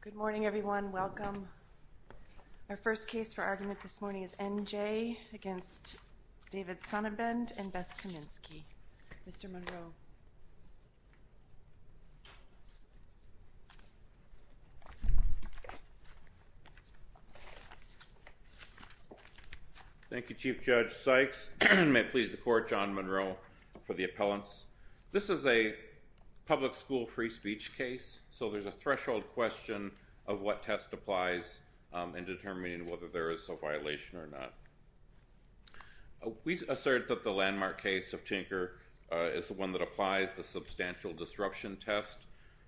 Good morning, everyone. Welcome. Our first case for argument this morning is N.J. v. David Sonnabend v. Beth Kaminsky. Mr. Monroe. Thank you, Chief Judge Sykes. May it please the Court, John Monroe, for the appellants. This is a public school free speech case, so there's a threshold question of what test applies in determining whether there is a violation or not. We assert that the landmark case of Tinker is the one that applies the substantial disruption test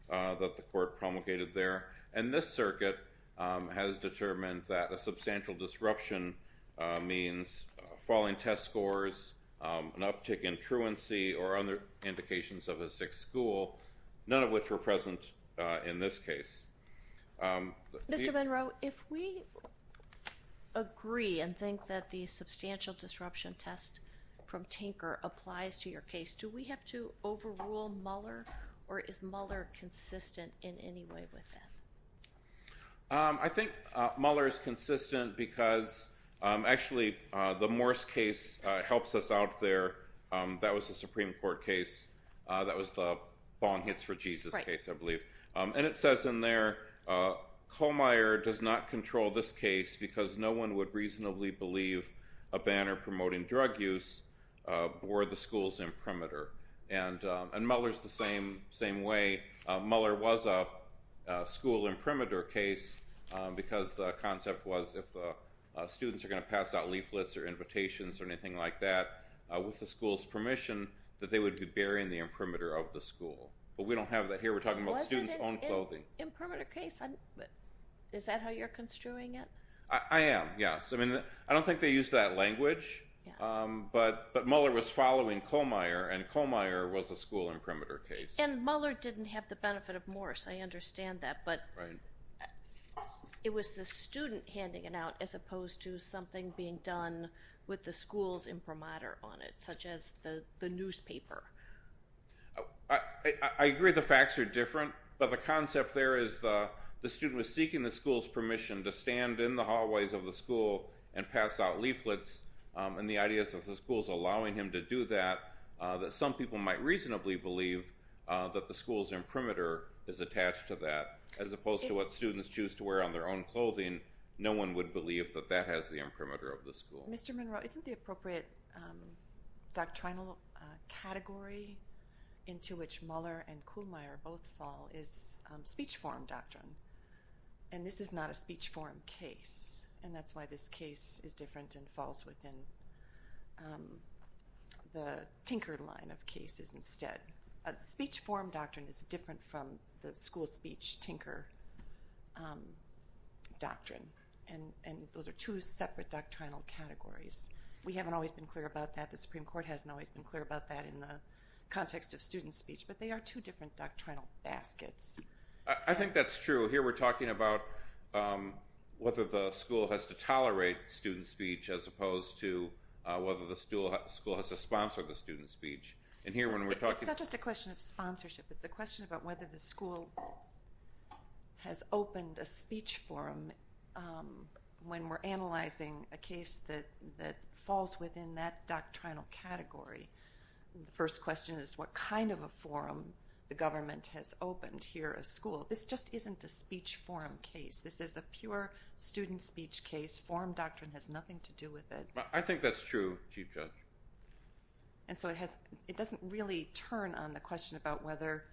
that the Court promulgated there. And this circuit has determined that a substantial disruption means falling test scores, an uptick in truancy, or other indications of a sick school, none of which were present in this case. Mr. Monroe, if we agree and think that the substantial disruption test from Tinker applies to your case, do we have to overrule Mueller, or is Mueller consistent in any way with that? I think Mueller is consistent because, actually, the Morse case helps us out there. That was a Supreme Court case. That was the Bong Hits for Jesus case, I believe. And it says in there, Kohlmeier does not control this case because no one would reasonably believe a banner promoting drug use were the school's imprimatur. And Mueller's the same way. Mueller was a school imprimatur case because the concept was if the students are going to pass out leaflets or invitations or anything like that, with the school's permission, that they would be bearing the imprimatur of the school. But we don't have that here. We're talking about students' own clothing. Was it an imprimatur case? Is that how you're construing it? I am, yes. I don't think they used that language, but Mueller was following Kohlmeier, and Kohlmeier was a school imprimatur case. And Mueller didn't have the benefit of Morse. I understand that, but it was the student handing it out as opposed to something being done with the school's imprimatur on it, such as the newspaper. I agree the facts are different, but the concept there is the student was seeking the school's permission to stand in the hallways of the school and pass out leaflets. And the idea is that the school's allowing him to do that, that some people might reasonably believe that the school's imprimatur is attached to that, as opposed to what students choose to wear on their own clothing. No one would believe that that has the imprimatur of the school. Mr. Monroe, isn't the appropriate doctrinal category into which Mueller and Kohlmeier both fall is speech form doctrine? And this is not a speech form case, and that's why this case is different and falls within the Tinker line of cases instead. Speech form doctrine is different from the school speech Tinker doctrine, and those are two separate doctrinal categories. We haven't always been clear about that. The Supreme Court hasn't always been clear about that in the context of student speech, but they are two different doctrinal baskets. I think that's true. Here we're talking about whether the school has to tolerate student speech as opposed to whether the school has to sponsor the student speech. It's not just a question of sponsorship. It's a question about whether the school has opened a speech form when we're analyzing a case that falls within that doctrinal category. The first question is what kind of a forum the government has opened here at school. This just isn't a speech form case. This is a pure student speech case. Form doctrine has nothing to do with it. I think that's true, Chief Judge. And so it doesn't really turn on the question about whether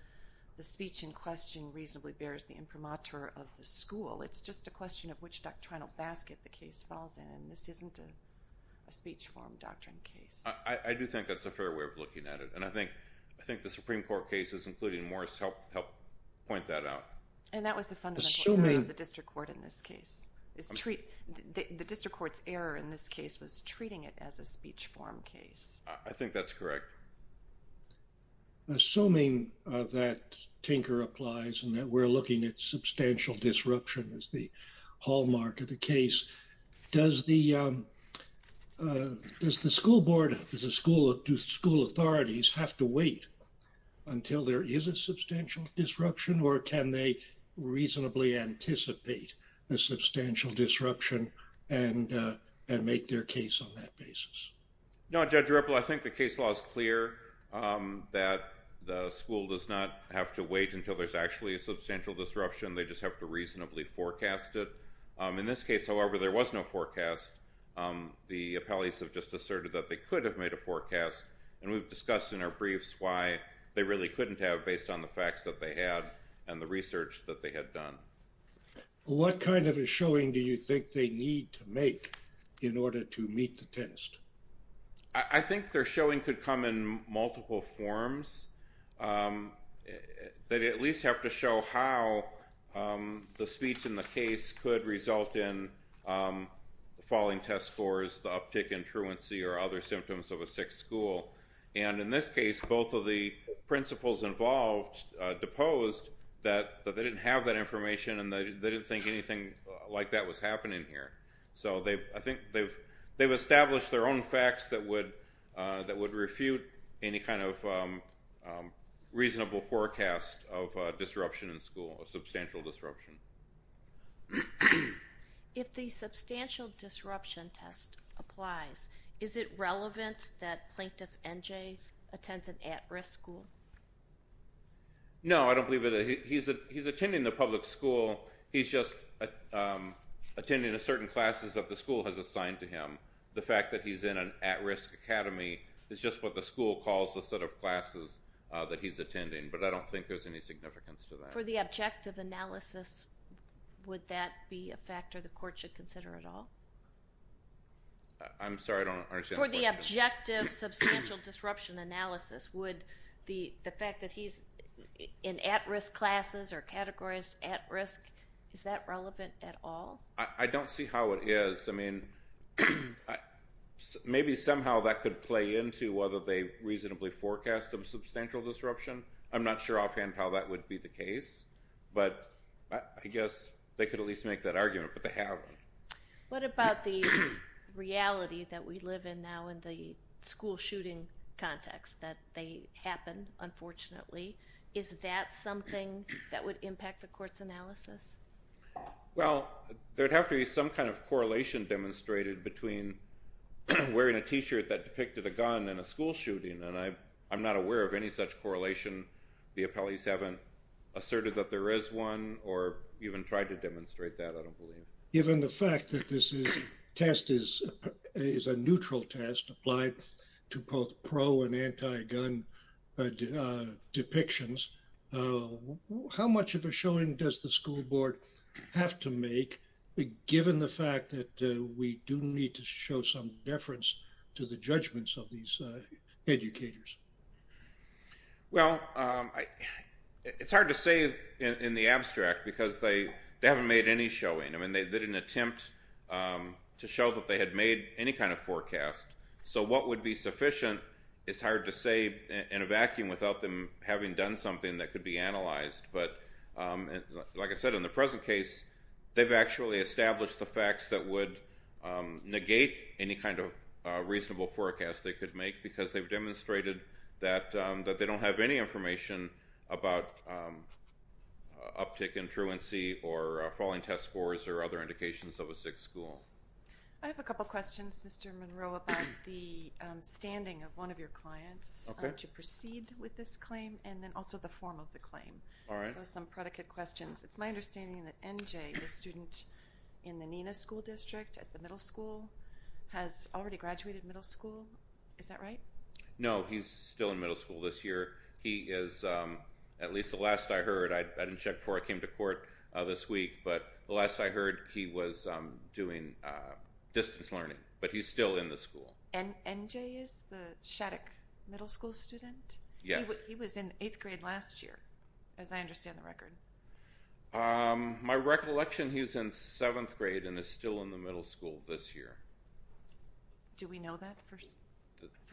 the speech in question reasonably bears the imprimatur of the school. It's just a question of which doctrinal basket the case falls in, and this isn't a speech form doctrine case. I do think that's a fair way of looking at it, and I think the Supreme Court cases, including Morris, help point that out. And that was the fundamental error of the district court in this case. The district court's error in this case was treating it as a speech form case. I think that's correct. Assuming that Tinker applies and that we're looking at substantial disruption as the hallmark of the case, does the school board, does the school authorities have to wait until there is a substantial disruption, or can they reasonably anticipate a substantial disruption and make their case on that basis? No, Judge Ripple, I think the case law is clear that the school does not have to wait until there's actually a substantial disruption. They just have to reasonably forecast it. In this case, however, there was no forecast. The appellees have just asserted that they could have made a forecast, and we've discussed in our briefs why they really couldn't have based on the facts that they had and the research that they had done. What kind of a showing do you think they need to make in order to meet the test? I think their showing could come in multiple forms. They at least have to show how the speech in the case could result in falling test scores, the uptick in truancy, or other symptoms of a sick school. In this case, both of the principals involved deposed that they didn't have that information and they didn't think anything like that was happening here. So I think they've established their own facts that would refute any kind of reasonable forecast of disruption in school, of substantial disruption. If the substantial disruption test applies, is it relevant that Plaintiff NJ attends an at-risk school? No, I don't believe it. He's attending the public school. He's just attending a certain classes that the school has assigned to him. The fact that he's in an at-risk academy is just what the school calls the set of classes that he's attending, but I don't think there's any significance to that. For the objective analysis, would that be a factor the court should consider at all? I'm sorry, I don't understand the question. For the objective substantial disruption analysis, would the fact that he's in at-risk classes or categorized at-risk, is that relevant at all? I don't see how it is. I mean, maybe somehow that could play into whether they reasonably forecast a substantial disruption. I'm not sure offhand how that would be the case, but I guess they could at least make that argument, but they haven't. What about the reality that we live in now in the school shooting context, that they happen, unfortunately? Is that something that would impact the court's analysis? Well, there would have to be some kind of correlation demonstrated between wearing a T-shirt that depicted a gun and a school shooting, and I'm not aware of any such correlation. The appellees haven't asserted that there is one or even tried to demonstrate that, I don't believe. Given the fact that this test is a neutral test applied to both pro and anti-gun depictions, how much of a showing does the school board have to make, given the fact that we do need to show some deference to the judgments of these educators? Well, it's hard to say in the abstract because they haven't made any showing. I mean, they didn't attempt to show that they had made any kind of forecast. So what would be sufficient is hard to say in a vacuum without them having done something that could be analyzed. But like I said, in the present case, they've actually established the facts that would negate any kind of reasonable forecast they could make because they've demonstrated that they don't have any information about uptick in truancy or falling test scores or other indications of a sick school. I have a couple questions, Mr. Monroe, about the standing of one of your clients to proceed with this claim and then also the form of the claim. So some predicate questions. It's my understanding that N.J., the student in the Nina School District at the middle school, has already graduated middle school. Is that right? No, he's still in middle school this year. He is, at least the last I heard, I didn't check before I came to court this week, but the last I heard he was doing distance learning. But he's still in the school. And N.J. is the Shattuck Middle School student? Yes. He was in eighth grade last year, as I understand the record. My recollection, he was in seventh grade and is still in the middle school this year. Do we know that for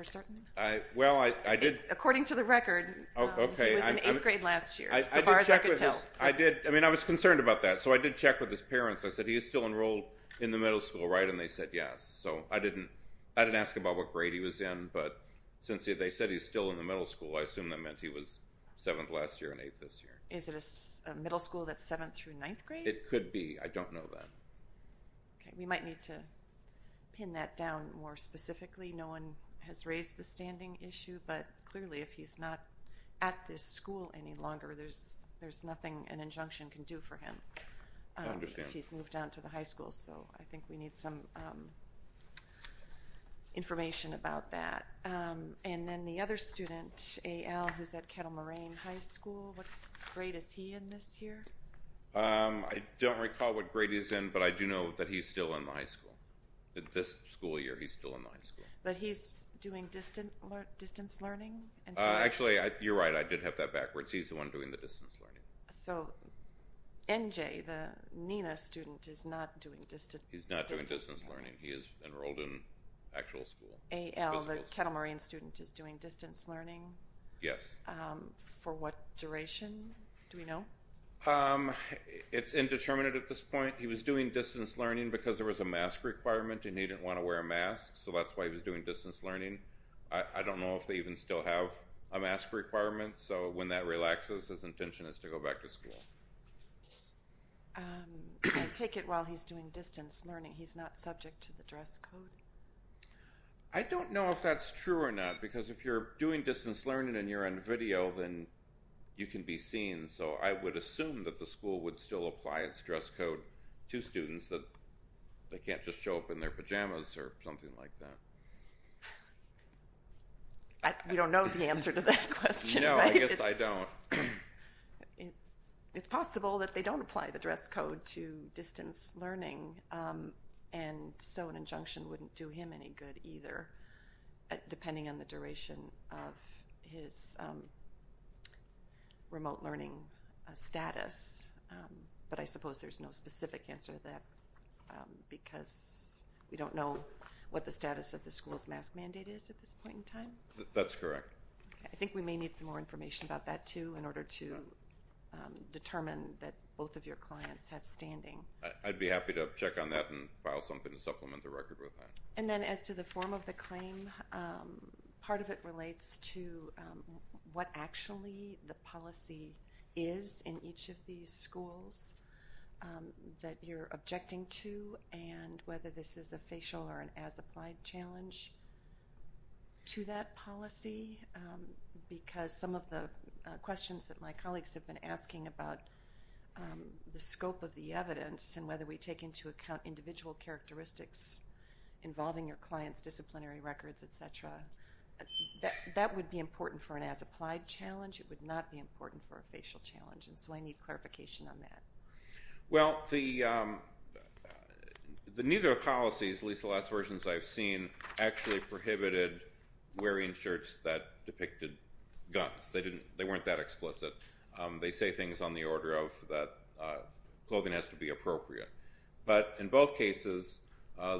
certain? Well, I did. According to the record, he was in eighth grade last year, so far as I could tell. I did. I mean, I was concerned about that. So I did check with his parents. I said, he is still enrolled in the middle school, right? And they said yes. So I didn't ask about what grade he was in, but since they said he's still in the middle school, I assume that meant he was seventh last year and eighth this year. Is it a middle school that's seventh through ninth grade? It could be. I don't know that. Okay. We might need to pin that down more specifically. No one has raised the standing issue, but clearly if he's not at this school any longer, there's nothing an injunction can do for him. I understand. He's moved on to the high school, so I think we need some information about that. And then the other student, A.L., who's at Kettle Moraine High School, what grade is he in this year? I don't recall what grade he's in, but I do know that he's still in the high school. This school year, he's still in the high school. But he's doing distance learning? Actually, you're right. I did have that backwards. He's the one doing the distance learning. So N.J., the Nina student, is not doing distance learning. He's not doing distance learning. He is enrolled in actual school. A.L., the Kettle Moraine student, is doing distance learning? Yes. For what duration? Do we know? It's indeterminate at this point. He was doing distance learning because there was a mask requirement and he didn't want to wear a mask, so that's why he was doing distance learning. I don't know if they even still have a mask requirement. So when that relaxes, his intention is to go back to school. I take it while he's doing distance learning, he's not subject to the dress code? I don't know if that's true or not because if you're doing distance learning and you're on video, then you can be seen. So I would assume that the school would still apply its dress code to students that they can't just show up in their pajamas or something like that. You don't know the answer to that question, right? No, I guess I don't. It's possible that they don't apply the dress code to distance learning, and so an injunction wouldn't do him any good either, depending on the duration of his remote learning status. But I suppose there's no specific answer to that because we don't know what the status of the school's mask mandate is at this point in time. That's correct. I think we may need some more information about that, too, in order to determine that both of your clients have standing. I'd be happy to check on that and file something to supplement the record with that. And then as to the form of the claim, part of it relates to what actually the policy is in each of these schools that you're objecting to and whether this is a facial or an as-applied challenge to that policy because some of the questions that my colleagues have been asking about the scope of the evidence and whether we take into account individual characteristics involving your clients' disciplinary records, etc., that would be important for an as-applied challenge. It would not be important for a facial challenge, and so I need clarification on that. Well, neither of the policies, at least the last versions I've seen, actually prohibited wearing shirts that depicted guns. They weren't that explicit. They say things on the order of that clothing has to be appropriate. But in both cases,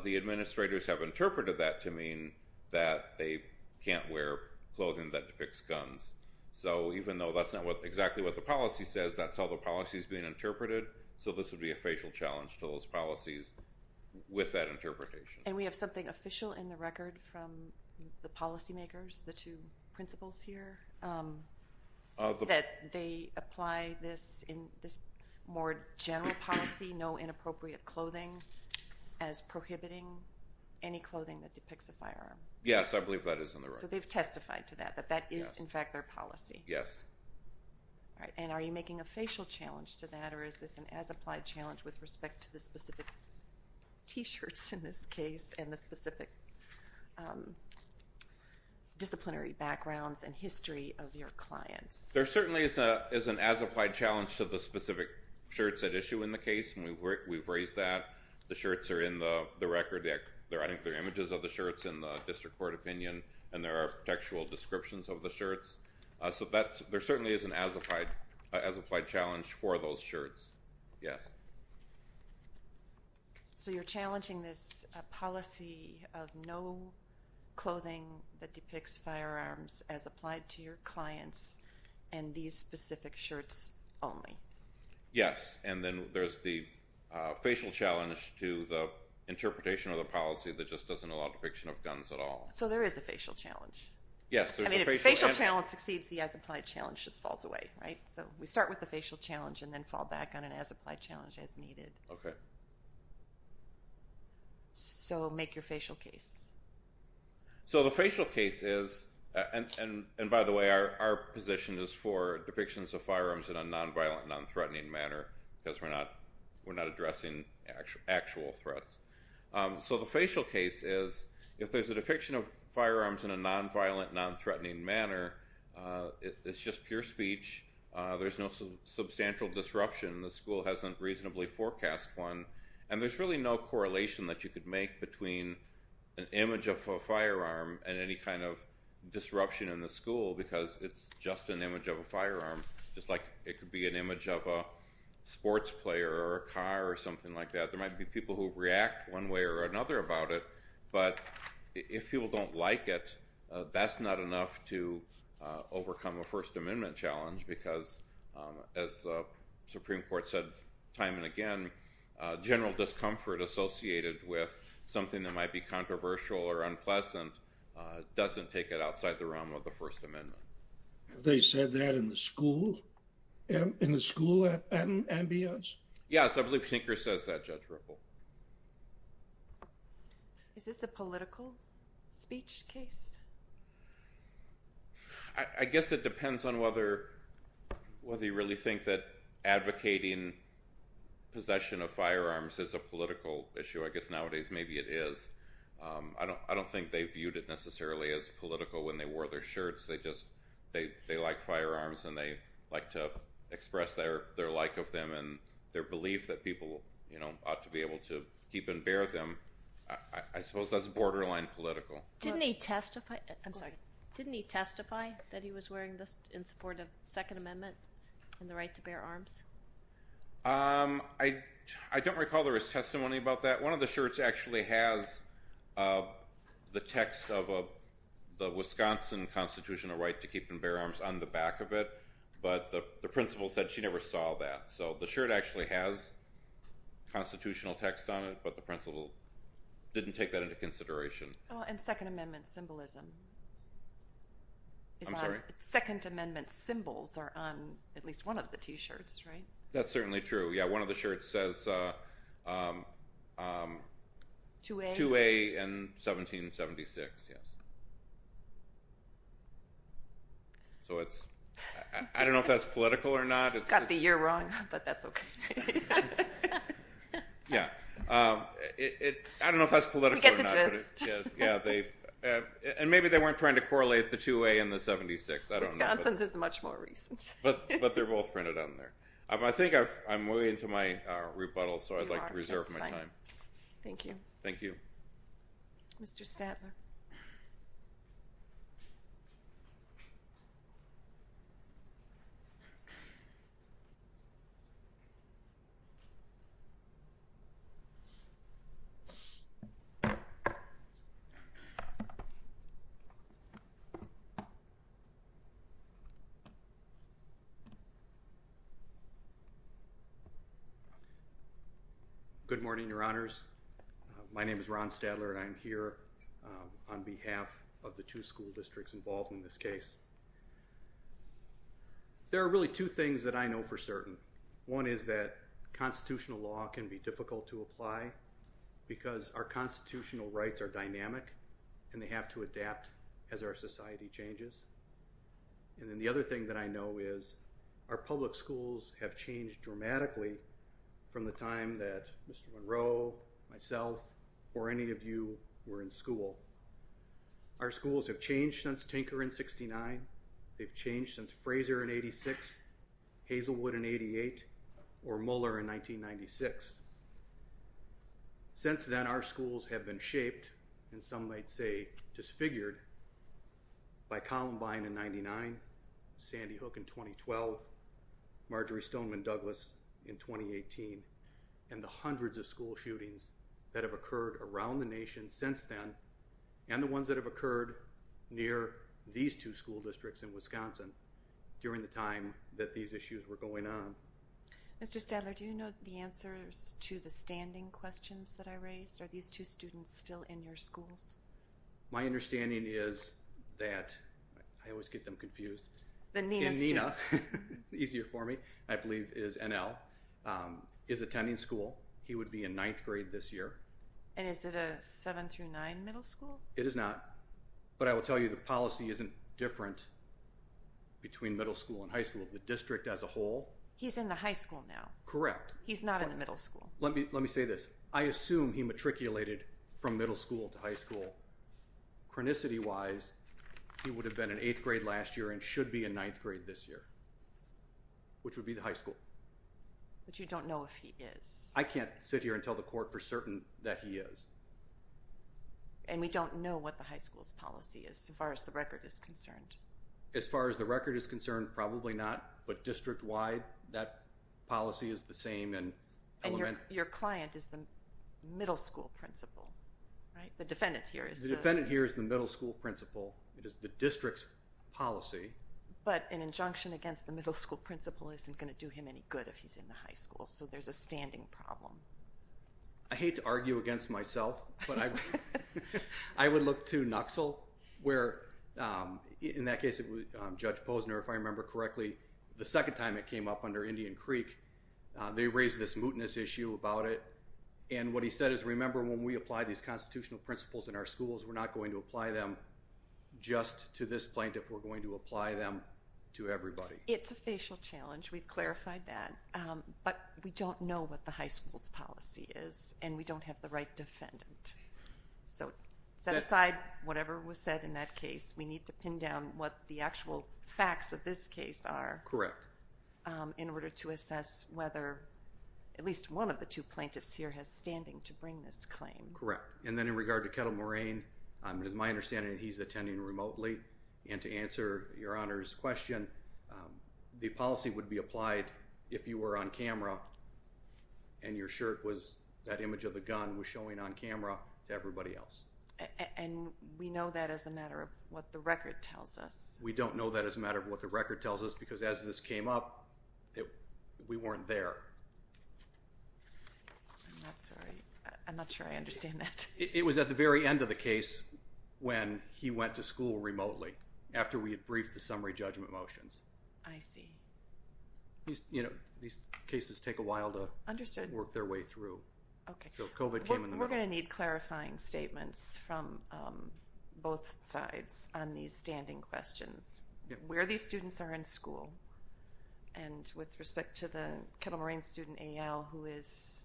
the administrators have interpreted that to mean that they can't wear clothing that depicts guns. So even though that's not exactly what the policy says, that's how the policy is being interpreted, so this would be a facial challenge to those policies with that interpretation. And we have something official in the record from the policymakers, the two principals here, that they apply this more general policy, no inappropriate clothing, as prohibiting any clothing that depicts a firearm. Yes, I believe that is on the record. So they've testified to that, that that is, in fact, their policy. Yes. All right, and are you making a facial challenge to that, or is this an as-applied challenge with respect to the specific T-shirts in this case and the specific disciplinary backgrounds and history of your clients? There certainly is an as-applied challenge to the specific shirts at issue in the case, and we've raised that. The shirts are in the record. I think there are images of the shirts in the district court opinion, and there are textual descriptions of the shirts. So there certainly is an as-applied challenge for those shirts, yes. So you're challenging this policy of no clothing that depicts firearms as applied to your clients and these specific shirts only. Yes, and then there's the facial challenge to the interpretation of the policy that just doesn't allow depiction of guns at all. So there is a facial challenge. Yes. I mean, if the facial challenge succeeds, the as-applied challenge just falls away, right? So we start with the facial challenge and then fall back on an as-applied challenge as needed. Okay. So make your facial case. So the facial case is, and by the way, our position is for depictions of firearms in a nonviolent, nonthreatening manner because we're not addressing actual threats. So the facial case is, if there's a depiction of firearms in a nonviolent, nonthreatening manner, it's just pure speech. There's no substantial disruption. The school hasn't reasonably forecast one. And there's really no correlation that you could make between an image of a firearm and any kind of disruption in the school because it's just an image of a firearm, just like it could be an image of a sports player or a car or something like that. There might be people who react one way or another about it. But if people don't like it, that's not enough to overcome a First Amendment challenge because, as the Supreme Court said time and again, general discomfort associated with something that might be controversial or unpleasant doesn't take it outside the realm of the First Amendment. Have they said that in the school ambience? Yes, I believe Hinker says that, Judge Ripple. Is this a political speech case? I guess it depends on whether you really think that advocating possession of firearms is a political issue. I guess nowadays maybe it is. I don't think they viewed it necessarily as political when they wore their shirts. They like firearms and they like to express their like of them and their belief that people ought to be able to keep and bear them. I suppose that's borderline political. Didn't he testify that he was wearing this in support of Second Amendment and the right to bear arms? I don't recall there was testimony about that. One of the shirts actually has the text of the Wisconsin constitutional right to keep and bear arms on the back of it, but the principal said she never saw that. So the shirt actually has constitutional text on it, but the principal didn't take that into consideration. And Second Amendment symbolism. I'm sorry? Second Amendment symbols are on at least one of the t-shirts, right? That's certainly true. One of the shirts says 2A in 1776. I don't know if that's political or not. Got the year wrong, but that's okay. I don't know if that's political or not. We get the gist. And maybe they weren't trying to correlate the 2A and the 76. Wisconsin's is much more recent. But they're both printed on there. I think I'm way into my rebuttal, so I'd like to reserve my time. Thank you. Thank you. Mr. Statler. Good morning, Your Honors. My name is Ron Statler, and I'm here on behalf of the two school districts involved in this case. There are really two things that I know for certain. One is that constitutional law can be difficult to apply because our constitutional rights are dynamic, and they have to adapt as our society changes. And then the other thing that I know is our public schools have changed dramatically from the time that Mr. Monroe, myself, or any of you were in school. Our schools have changed since Tinker in 69. They've changed since Fraser in 86, Hazelwood in 88, or Muller in 1996. Since then, our schools have been shaped, and some might say disfigured, by Columbine in 99, Sandy Hook in 2012, Marjory Stoneman Douglas in 2018, and the hundreds of school shootings that have occurred around the nation since then and the ones that have occurred near these two school districts in Wisconsin during the time that these issues were going on. Mr. Statler, do you know the answers to the standing questions that I raised? Are these two students still in your schools? My understanding is that – I always get them confused. The Nina student. Nina, easier for me, I believe is NL, is attending school. He would be in ninth grade this year. And is it a seven through nine middle school? It is not, but I will tell you the policy isn't different between middle school and high school. The district as a whole – He's in the high school now. Correct. He's not in the middle school. Let me say this. I assume he matriculated from middle school to high school. Chronicity-wise, he would have been in eighth grade last year and should be in ninth grade this year, which would be the high school. But you don't know if he is. I can't sit here and tell the court for certain that he is. And we don't know what the high school's policy is as far as the record is concerned. As far as the record is concerned, probably not. But district-wide, that policy is the same. And your client is the middle school principal, right? The defendant here is the – The defendant here is the middle school principal. It is the district's policy. But an injunction against the middle school principal isn't going to do him any good if he's in the high school. So there's a standing problem. I hate to argue against myself, but I would look to NUXL. Where, in that case, Judge Posner, if I remember correctly, the second time it came up under Indian Creek, they raised this mootness issue about it. And what he said is, remember, when we apply these constitutional principles in our schools, we're not going to apply them just to this plaintiff. We're going to apply them to everybody. It's a facial challenge. We've clarified that. But we don't know what the high school's policy is, and we don't have the right defendant. So set aside whatever was said in that case. We need to pin down what the actual facts of this case are. Correct. In order to assess whether at least one of the two plaintiffs here has standing to bring this claim. Correct. And then in regard to Kettle Moraine, it is my understanding that he's attending remotely. And to answer Your Honor's question, the policy would be applied if you were on camera and your shirt was that image of the gun was showing on camera to everybody else. And we know that as a matter of what the record tells us. We don't know that as a matter of what the record tells us because as this came up, we weren't there. I'm not sure I understand that. It was at the very end of the case when he went to school remotely after we had briefed the summary judgment motions. I see. You know, these cases take a while to work their way through. So COVID came in the middle. We're going to need clarifying statements from both sides on these standing questions. Where these students are in school and with respect to the Kettle Moraine student A.L. who is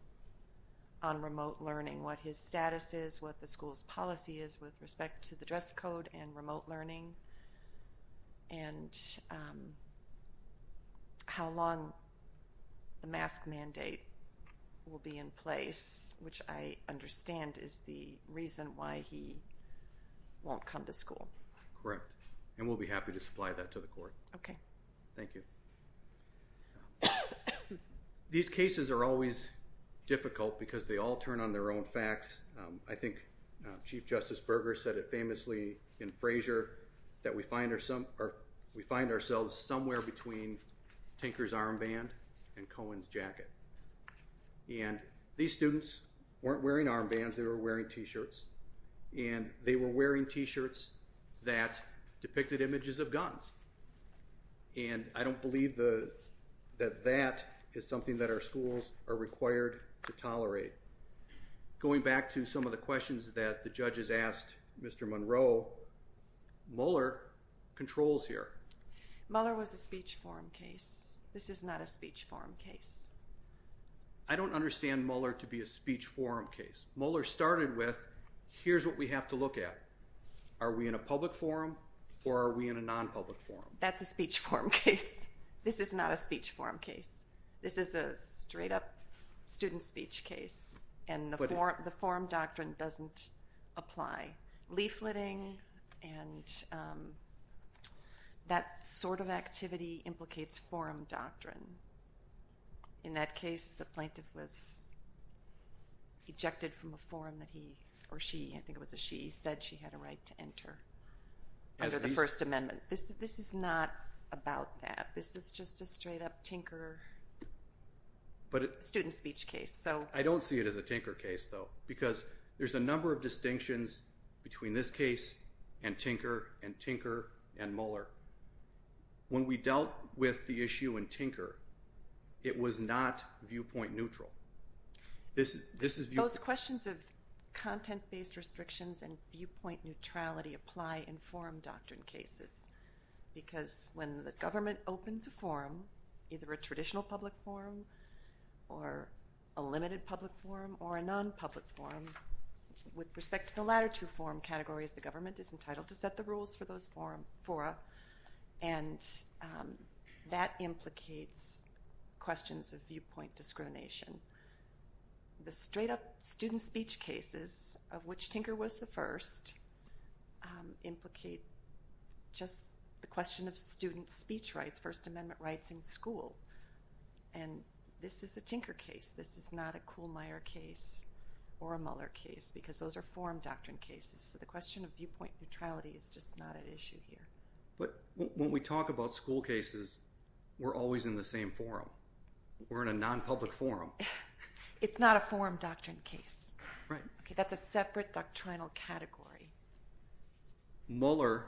on remote learning, what his status is, what the school's policy is with respect to the dress code and remote learning. And how long the mask mandate will be in place, which I understand is the reason why he won't come to school. Correct. And we'll be happy to supply that to the court. Okay. Thank you. These cases are always difficult because they all turn on their own facts. I think Chief Justice Berger said it famously in Frazier that we find ourselves somewhere between Tinker's armband and Cohen's jacket. And these students weren't wearing armbands. They were wearing T-shirts. And they were wearing T-shirts that depicted images of guns. And I don't believe that that is something that our schools are required to tolerate. Going back to some of the questions that the judges asked Mr. Monroe, Mueller controls here. Mueller was a speech forum case. This is not a speech forum case. I don't understand Mueller to be a speech forum case. Mueller started with, here's what we have to look at. Are we in a public forum or are we in a non-public forum? That's a speech forum case. This is not a speech forum case. This is a straight-up student speech case. And the forum doctrine doesn't apply. Leafleting and that sort of activity implicates forum doctrine. In that case, the plaintiff was ejected from a forum that he or she, I think it was a she, said she had a right to enter under the First Amendment. This is not about that. This is just a straight-up tinker student speech case. I don't see it as a tinker case, though, because there's a number of distinctions between this case and tinker and tinker and Mueller. When we dealt with the issue in tinker, it was not viewpoint neutral. Those questions of content-based restrictions and viewpoint neutrality apply in forum doctrine cases. Because when the government opens a forum, either a traditional public forum or a limited public forum or a non-public forum, with respect to the latter two forum categories, the government is entitled to set the rules for those fora. And that implicates questions of viewpoint discrimination. The straight-up student speech cases, of which tinker was the first, implicate just the question of student speech rights, First Amendment rights in school. And this is a tinker case. This is not a Kuhlmeier case or a Mueller case, because those are forum doctrine cases. So the question of viewpoint neutrality is just not at issue here. But when we talk about school cases, we're always in the same forum. We're in a non-public forum. It's not a forum doctrine case. Right. That's a separate doctrinal category. Mueller,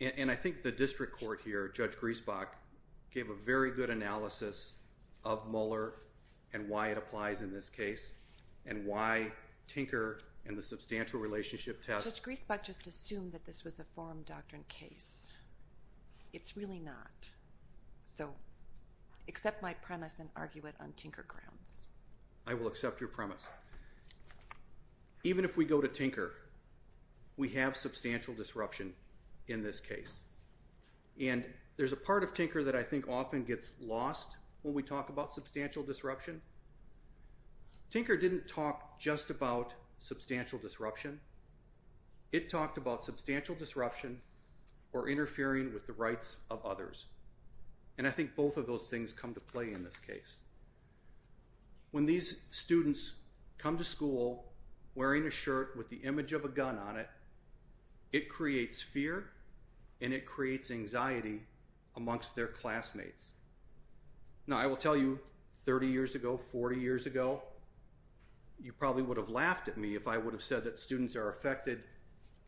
and I think the district court here, Judge Griesbach, gave a very good analysis of Mueller and why it applies in this case, and why tinker and the substantial relationship test. Judge Griesbach just assumed that this was a forum doctrine case. It's really not. So accept my premise and argue it on tinker grounds. I will accept your premise. Even if we go to tinker, we have substantial disruption in this case. And there's a part of tinker that I think often gets lost when we talk about substantial disruption. Tinker didn't talk just about substantial disruption. It talked about substantial disruption or interfering with the rights of others. And I think both of those things come to play in this case. When these students come to school wearing a shirt with the image of a gun on it, it creates fear and it creates anxiety amongst their classmates. Now, I will tell you, 30 years ago, 40 years ago, you probably would have laughed at me if I would have said that students are affected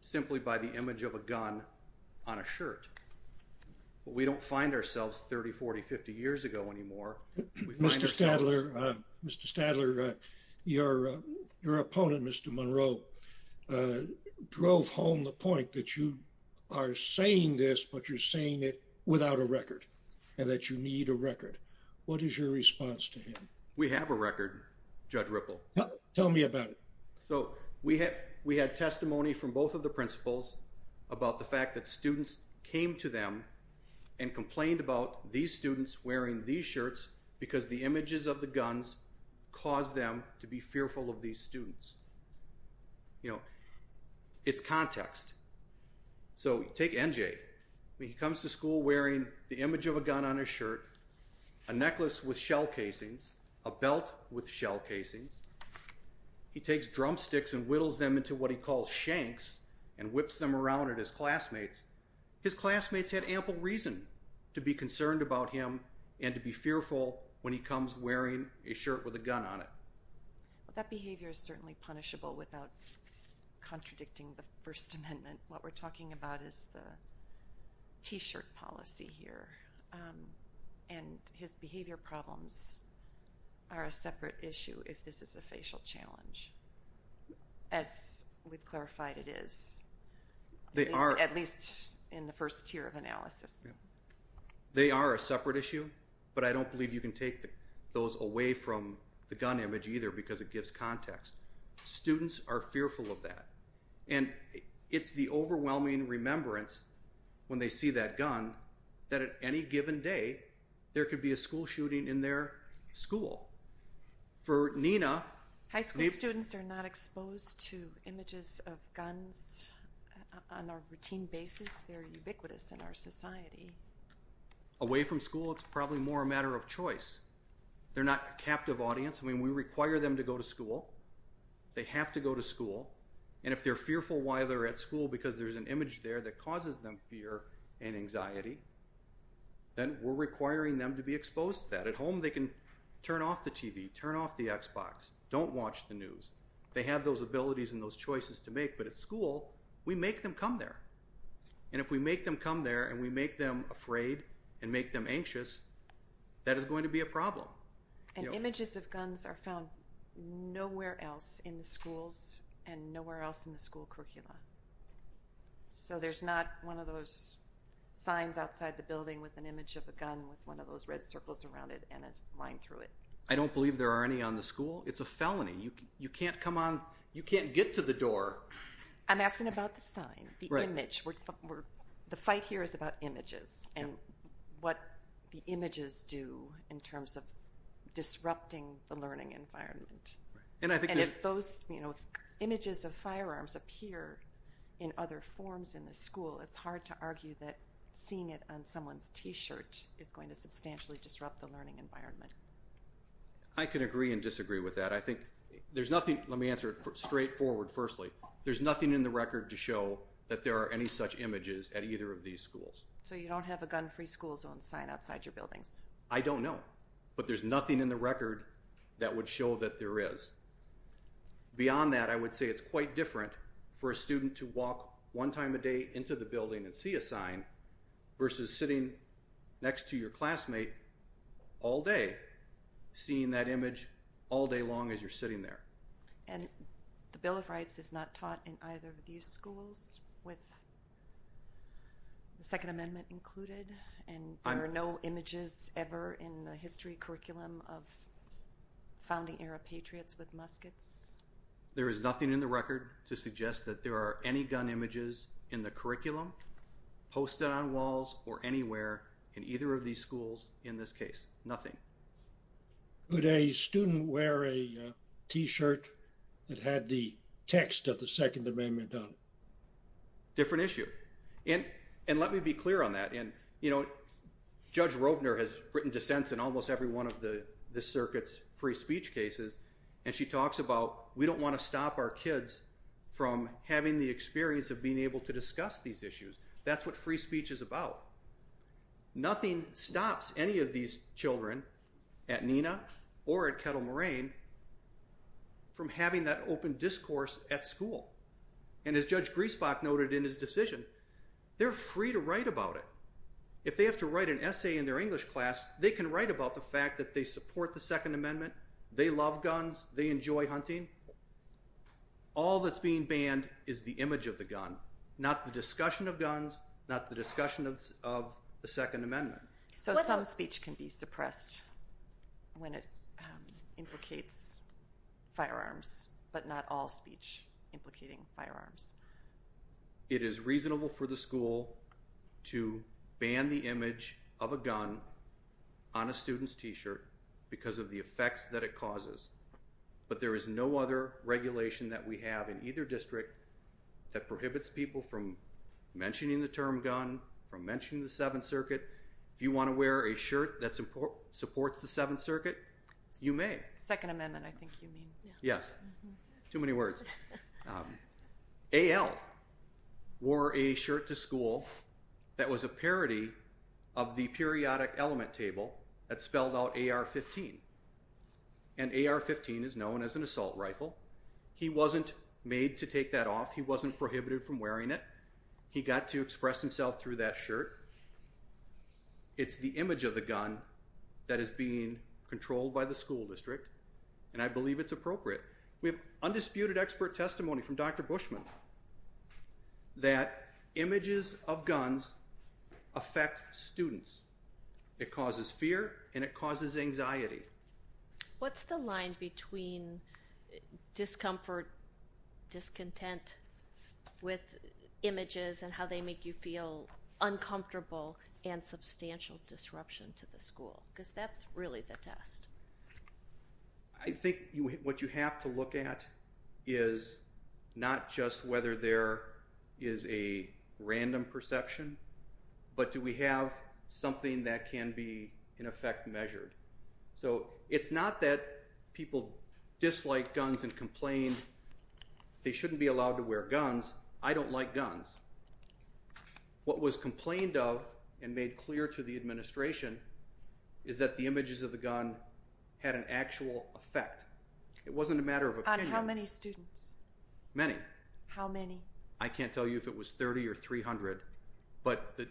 simply by the image of a gun on a shirt. But we don't find ourselves 30, 40, 50 years ago anymore. Mr. Stadler, your opponent, Mr. Monroe, drove home the point that you are saying this, but you're saying it without a record and that you need a record. What is your response to him? We have a record, Judge Ripple. Tell me about it. So, we had testimony from both of the principals about the fact that students came to them and complained about these students wearing these shirts because the images of the guns caused them to be fearful of these students. You know, it's context. So, take NJ. He comes to school wearing the image of a gun on his shirt, a necklace with shell casings, a belt with shell casings. He takes drumsticks and whittles them into what he calls shanks and whips them around at his classmates. His classmates had ample reason to be concerned about him and to be fearful when he comes wearing a shirt with a gun on it. That behavior is certainly punishable without contradicting the First Amendment. What we're talking about is the t-shirt policy here. And his behavior problems are a separate issue if this is a facial challenge, as we've clarified it is. At least in the first tier of analysis. They are a separate issue, but I don't believe you can take those away from the gun image either because it gives context. Students are fearful of that. And it's the overwhelming remembrance when they see that gun that at any given day there could be a school shooting in their school. For Nina... Away from school, it's probably more a matter of choice. They're not a captive audience. I mean, we require them to go to school. They have to go to school. And if they're fearful while they're at school because there's an image there that causes them fear and anxiety, then we're requiring them to be exposed to that. At home, they can turn off the TV, turn off the Xbox, don't watch the news. They have those abilities and those choices to make. But at school, we make them come there. And if we make them come there and we make them afraid and make them anxious, that is going to be a problem. And images of guns are found nowhere else in the schools and nowhere else in the school curricula. So there's not one of those signs outside the building with an image of a gun with one of those red circles around it and a line through it. I don't believe there are any on the school. It's a felony. You can't come on. You can't get to the door. I'm asking about the sign, the image. The fight here is about images and what the images do in terms of disrupting the learning environment. And if those images of firearms appear in other forms in the school, it's hard to argue that seeing it on someone's T-shirt is going to substantially disrupt the learning environment. I can agree and disagree with that. Let me answer it straightforward firstly. There's nothing in the record to show that there are any such images at either of these schools. So you don't have a gun-free school zone sign outside your buildings? I don't know. But there's nothing in the record that would show that there is. Beyond that, I would say it's quite different for a student to walk one time a day into the building and see a sign versus sitting next to your classmate all day, seeing that image all day long as you're sitting there. And the Bill of Rights is not taught in either of these schools with the Second Amendment included? And there are no images ever in the history curriculum of founding era patriots with muskets? There is nothing in the record to suggest that there are any gun images in the curriculum posted on walls or anywhere in either of these schools in this case. Nothing. Would a student wear a T-shirt that had the text of the Second Amendment on it? Different issue. And let me be clear on that. Judge Rovner has written dissents in almost every one of the circuit's free speech cases, and she talks about we don't want to stop our kids from having the experience of being able to discuss these issues. That's what free speech is about. Nothing stops any of these children at NENA or at Kettle Moraine from having that open discourse at school. And as Judge Griesbach noted in his decision, they're free to write about it. If they have to write an essay in their English class, they can write about the fact that they support the Second Amendment, they love guns, they enjoy hunting. All that's being banned is the image of the gun, not the discussion of guns, not the discussion of the Second Amendment. So some speech can be suppressed when it implicates firearms, but not all speech implicating firearms. It is reasonable for the school to ban the image of a gun on a student's T-shirt because of the effects that it causes. But there is no other regulation that we have in either district that prohibits people from mentioning the term gun, from mentioning the Seventh Circuit. If you want to wear a shirt that supports the Seventh Circuit, you may. Second Amendment, I think you mean. Yes. Too many words. A.L. wore a shirt to school that was a parody of the periodic element table that spelled out AR-15. And AR-15 is known as an assault rifle. He wasn't made to take that off. He wasn't prohibited from wearing it. He got to express himself through that shirt. It's the image of the gun that is being controlled by the school district, and I believe it's appropriate. We have undisputed expert testimony from Dr. Bushman that images of guns affect students. It causes fear and it causes anxiety. What's the line between discomfort, discontent with images, and how they make you feel uncomfortable and substantial disruption to the school? Because that's really the test. I think what you have to look at is not just whether there is a random perception, but do we have something that can be, in effect, measured? So it's not that people dislike guns and complain they shouldn't be allowed to wear guns. I don't like guns. What was complained of and made clear to the administration is that the images of the gun had an actual effect. It wasn't a matter of opinion. On how many students? Many. How many? I can't tell you if it was 30 or 300.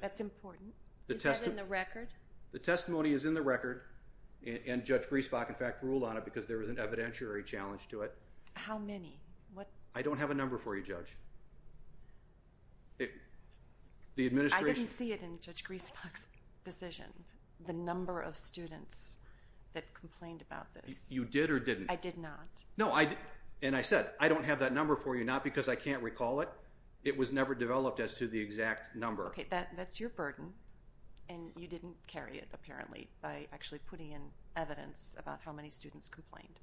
That's important. Is that in the record? The testimony is in the record, and Judge Griesbach, in fact, ruled on it because there was an evidentiary challenge to it. How many? I don't have a number for you, Judge. I didn't see it in Judge Griesbach's decision, the number of students that complained about this. You did or didn't? I did not. And I said, I don't have that number for you, not because I can't recall it. It was never developed as to the exact number. Okay, that's your burden, and you didn't carry it, apparently, by actually putting in evidence about how many students complained.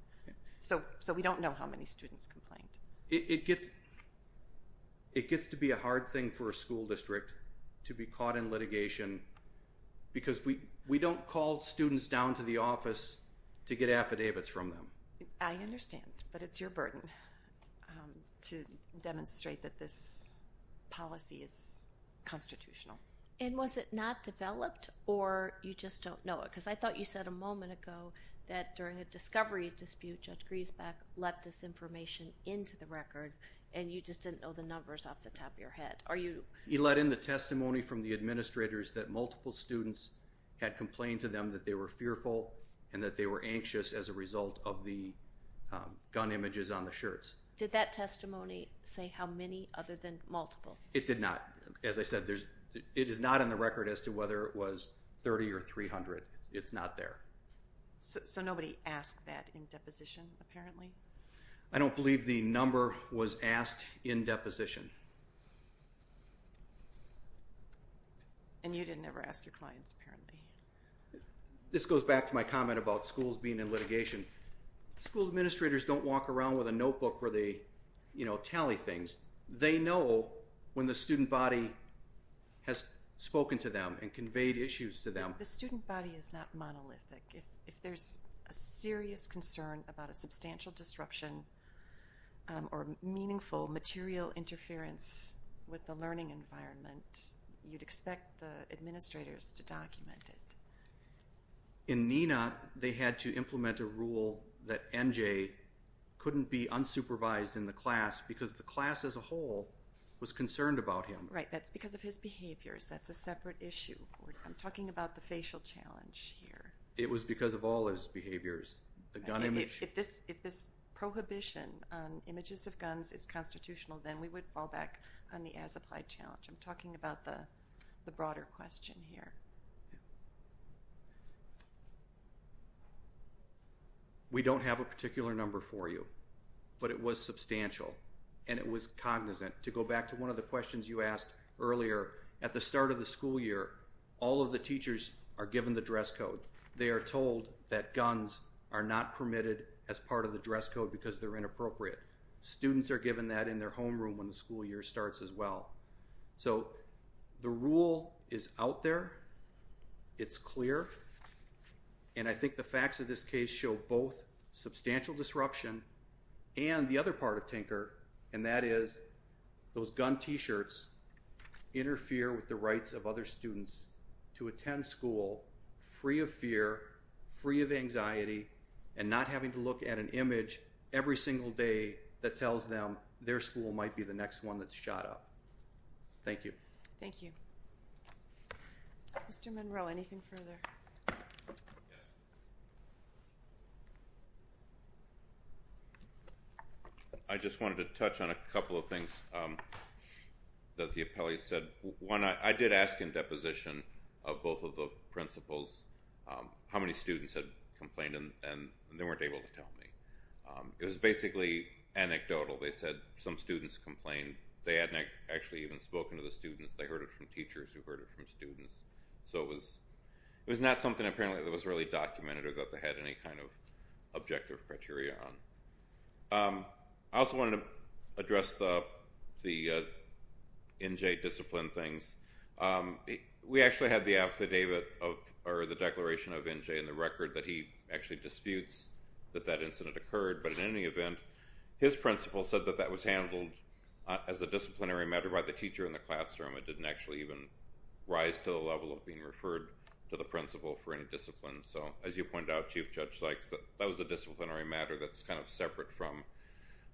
So we don't know how many students complained. It gets to be a hard thing for a school district to be caught in litigation because we don't call students down to the office to get affidavits from them. I understand, but it's your burden to demonstrate that this policy is constitutional. And was it not developed, or you just don't know it? Because I thought you said a moment ago that during a discovery dispute, Judge Griesbach let this information into the record, and you just didn't know the numbers off the top of your head. He let in the testimony from the administrators that multiple students had complained to them that they were fearful and that they were anxious as a result of the gun images on the shirts. Did that testimony say how many other than multiple? It did not. As I said, it is not in the record as to whether it was 30 or 300. It's not there. So nobody asked that in deposition, apparently? I don't believe the number was asked in deposition. And you didn't ever ask your clients, apparently. This goes back to my comment about schools being in litigation. School administrators don't walk around with a notebook where they tally things. They know when the student body has spoken to them and conveyed issues to them. The student body is not monolithic. If there's a serious concern about a substantial disruption or meaningful material interference with the learning environment, you'd expect the administrators to document it. In NENA, they had to implement a rule that NJ couldn't be unsupervised in the class because the class as a whole was concerned about him. Right. That's because of his behaviors. That's a separate issue. I'm talking about the facial challenge here. It was because of all his behaviors. If this prohibition on images of guns is constitutional, then we would fall back on the as-applied challenge. I'm talking about the broader question here. We don't have a particular number for you, but it was substantial and it was cognizant. To go back to one of the questions you asked earlier, at the start of the school year, all of the teachers are given the dress code. They are told that guns are not permitted as part of the dress code because they're inappropriate. Students are given that in their homeroom when the school year starts as well. So the rule is out there. It's clear. And I think the facts of this case show both substantial disruption and the other part of Tinker, and that is those gun t-shirts interfere with the rights of other students to attend school free of fear, free of anxiety, and not having to look at an image every single day that tells them their school might be the next one that's shot up. Thank you. Thank you. Mr. Monroe, anything further? I just wanted to touch on a couple of things that the appellee said. One, I did ask in deposition of both of the principals how many students had complained and they weren't able to tell me. It was basically anecdotal. They said some students complained. They hadn't actually even spoken to the students. They heard it from teachers who heard it from students. So it was not something apparently that was really documented or that they had any kind of objective criteria on. I also wanted to address the NJ discipline things. We actually had the affidavit or the declaration of NJ in the record that he actually disputes that that incident occurred. But in any event, his principal said that that was handled as a disciplinary matter by the teacher in the classroom. It didn't actually even rise to the level of being referred to the principal for any discipline. So as you pointed out, Chief Judge Sykes, that was a disciplinary matter that's kind of separate from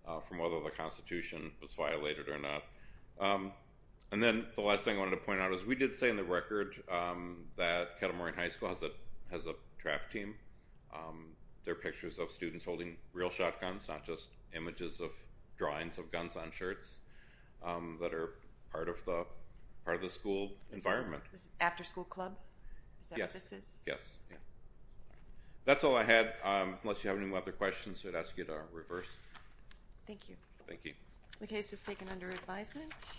whether the Constitution was violated or not. And then the last thing I wanted to point out is we did say in the record that Kettle Moraine High School has a trap team. There are pictures of students holding real shotguns, not just images of drawings of guns on shirts that are part of the school environment. This is after school club? Yes. That's all I had. Unless you have any other questions, I'd ask you to reverse. Thank you. Thank you. The case is taken under advisement.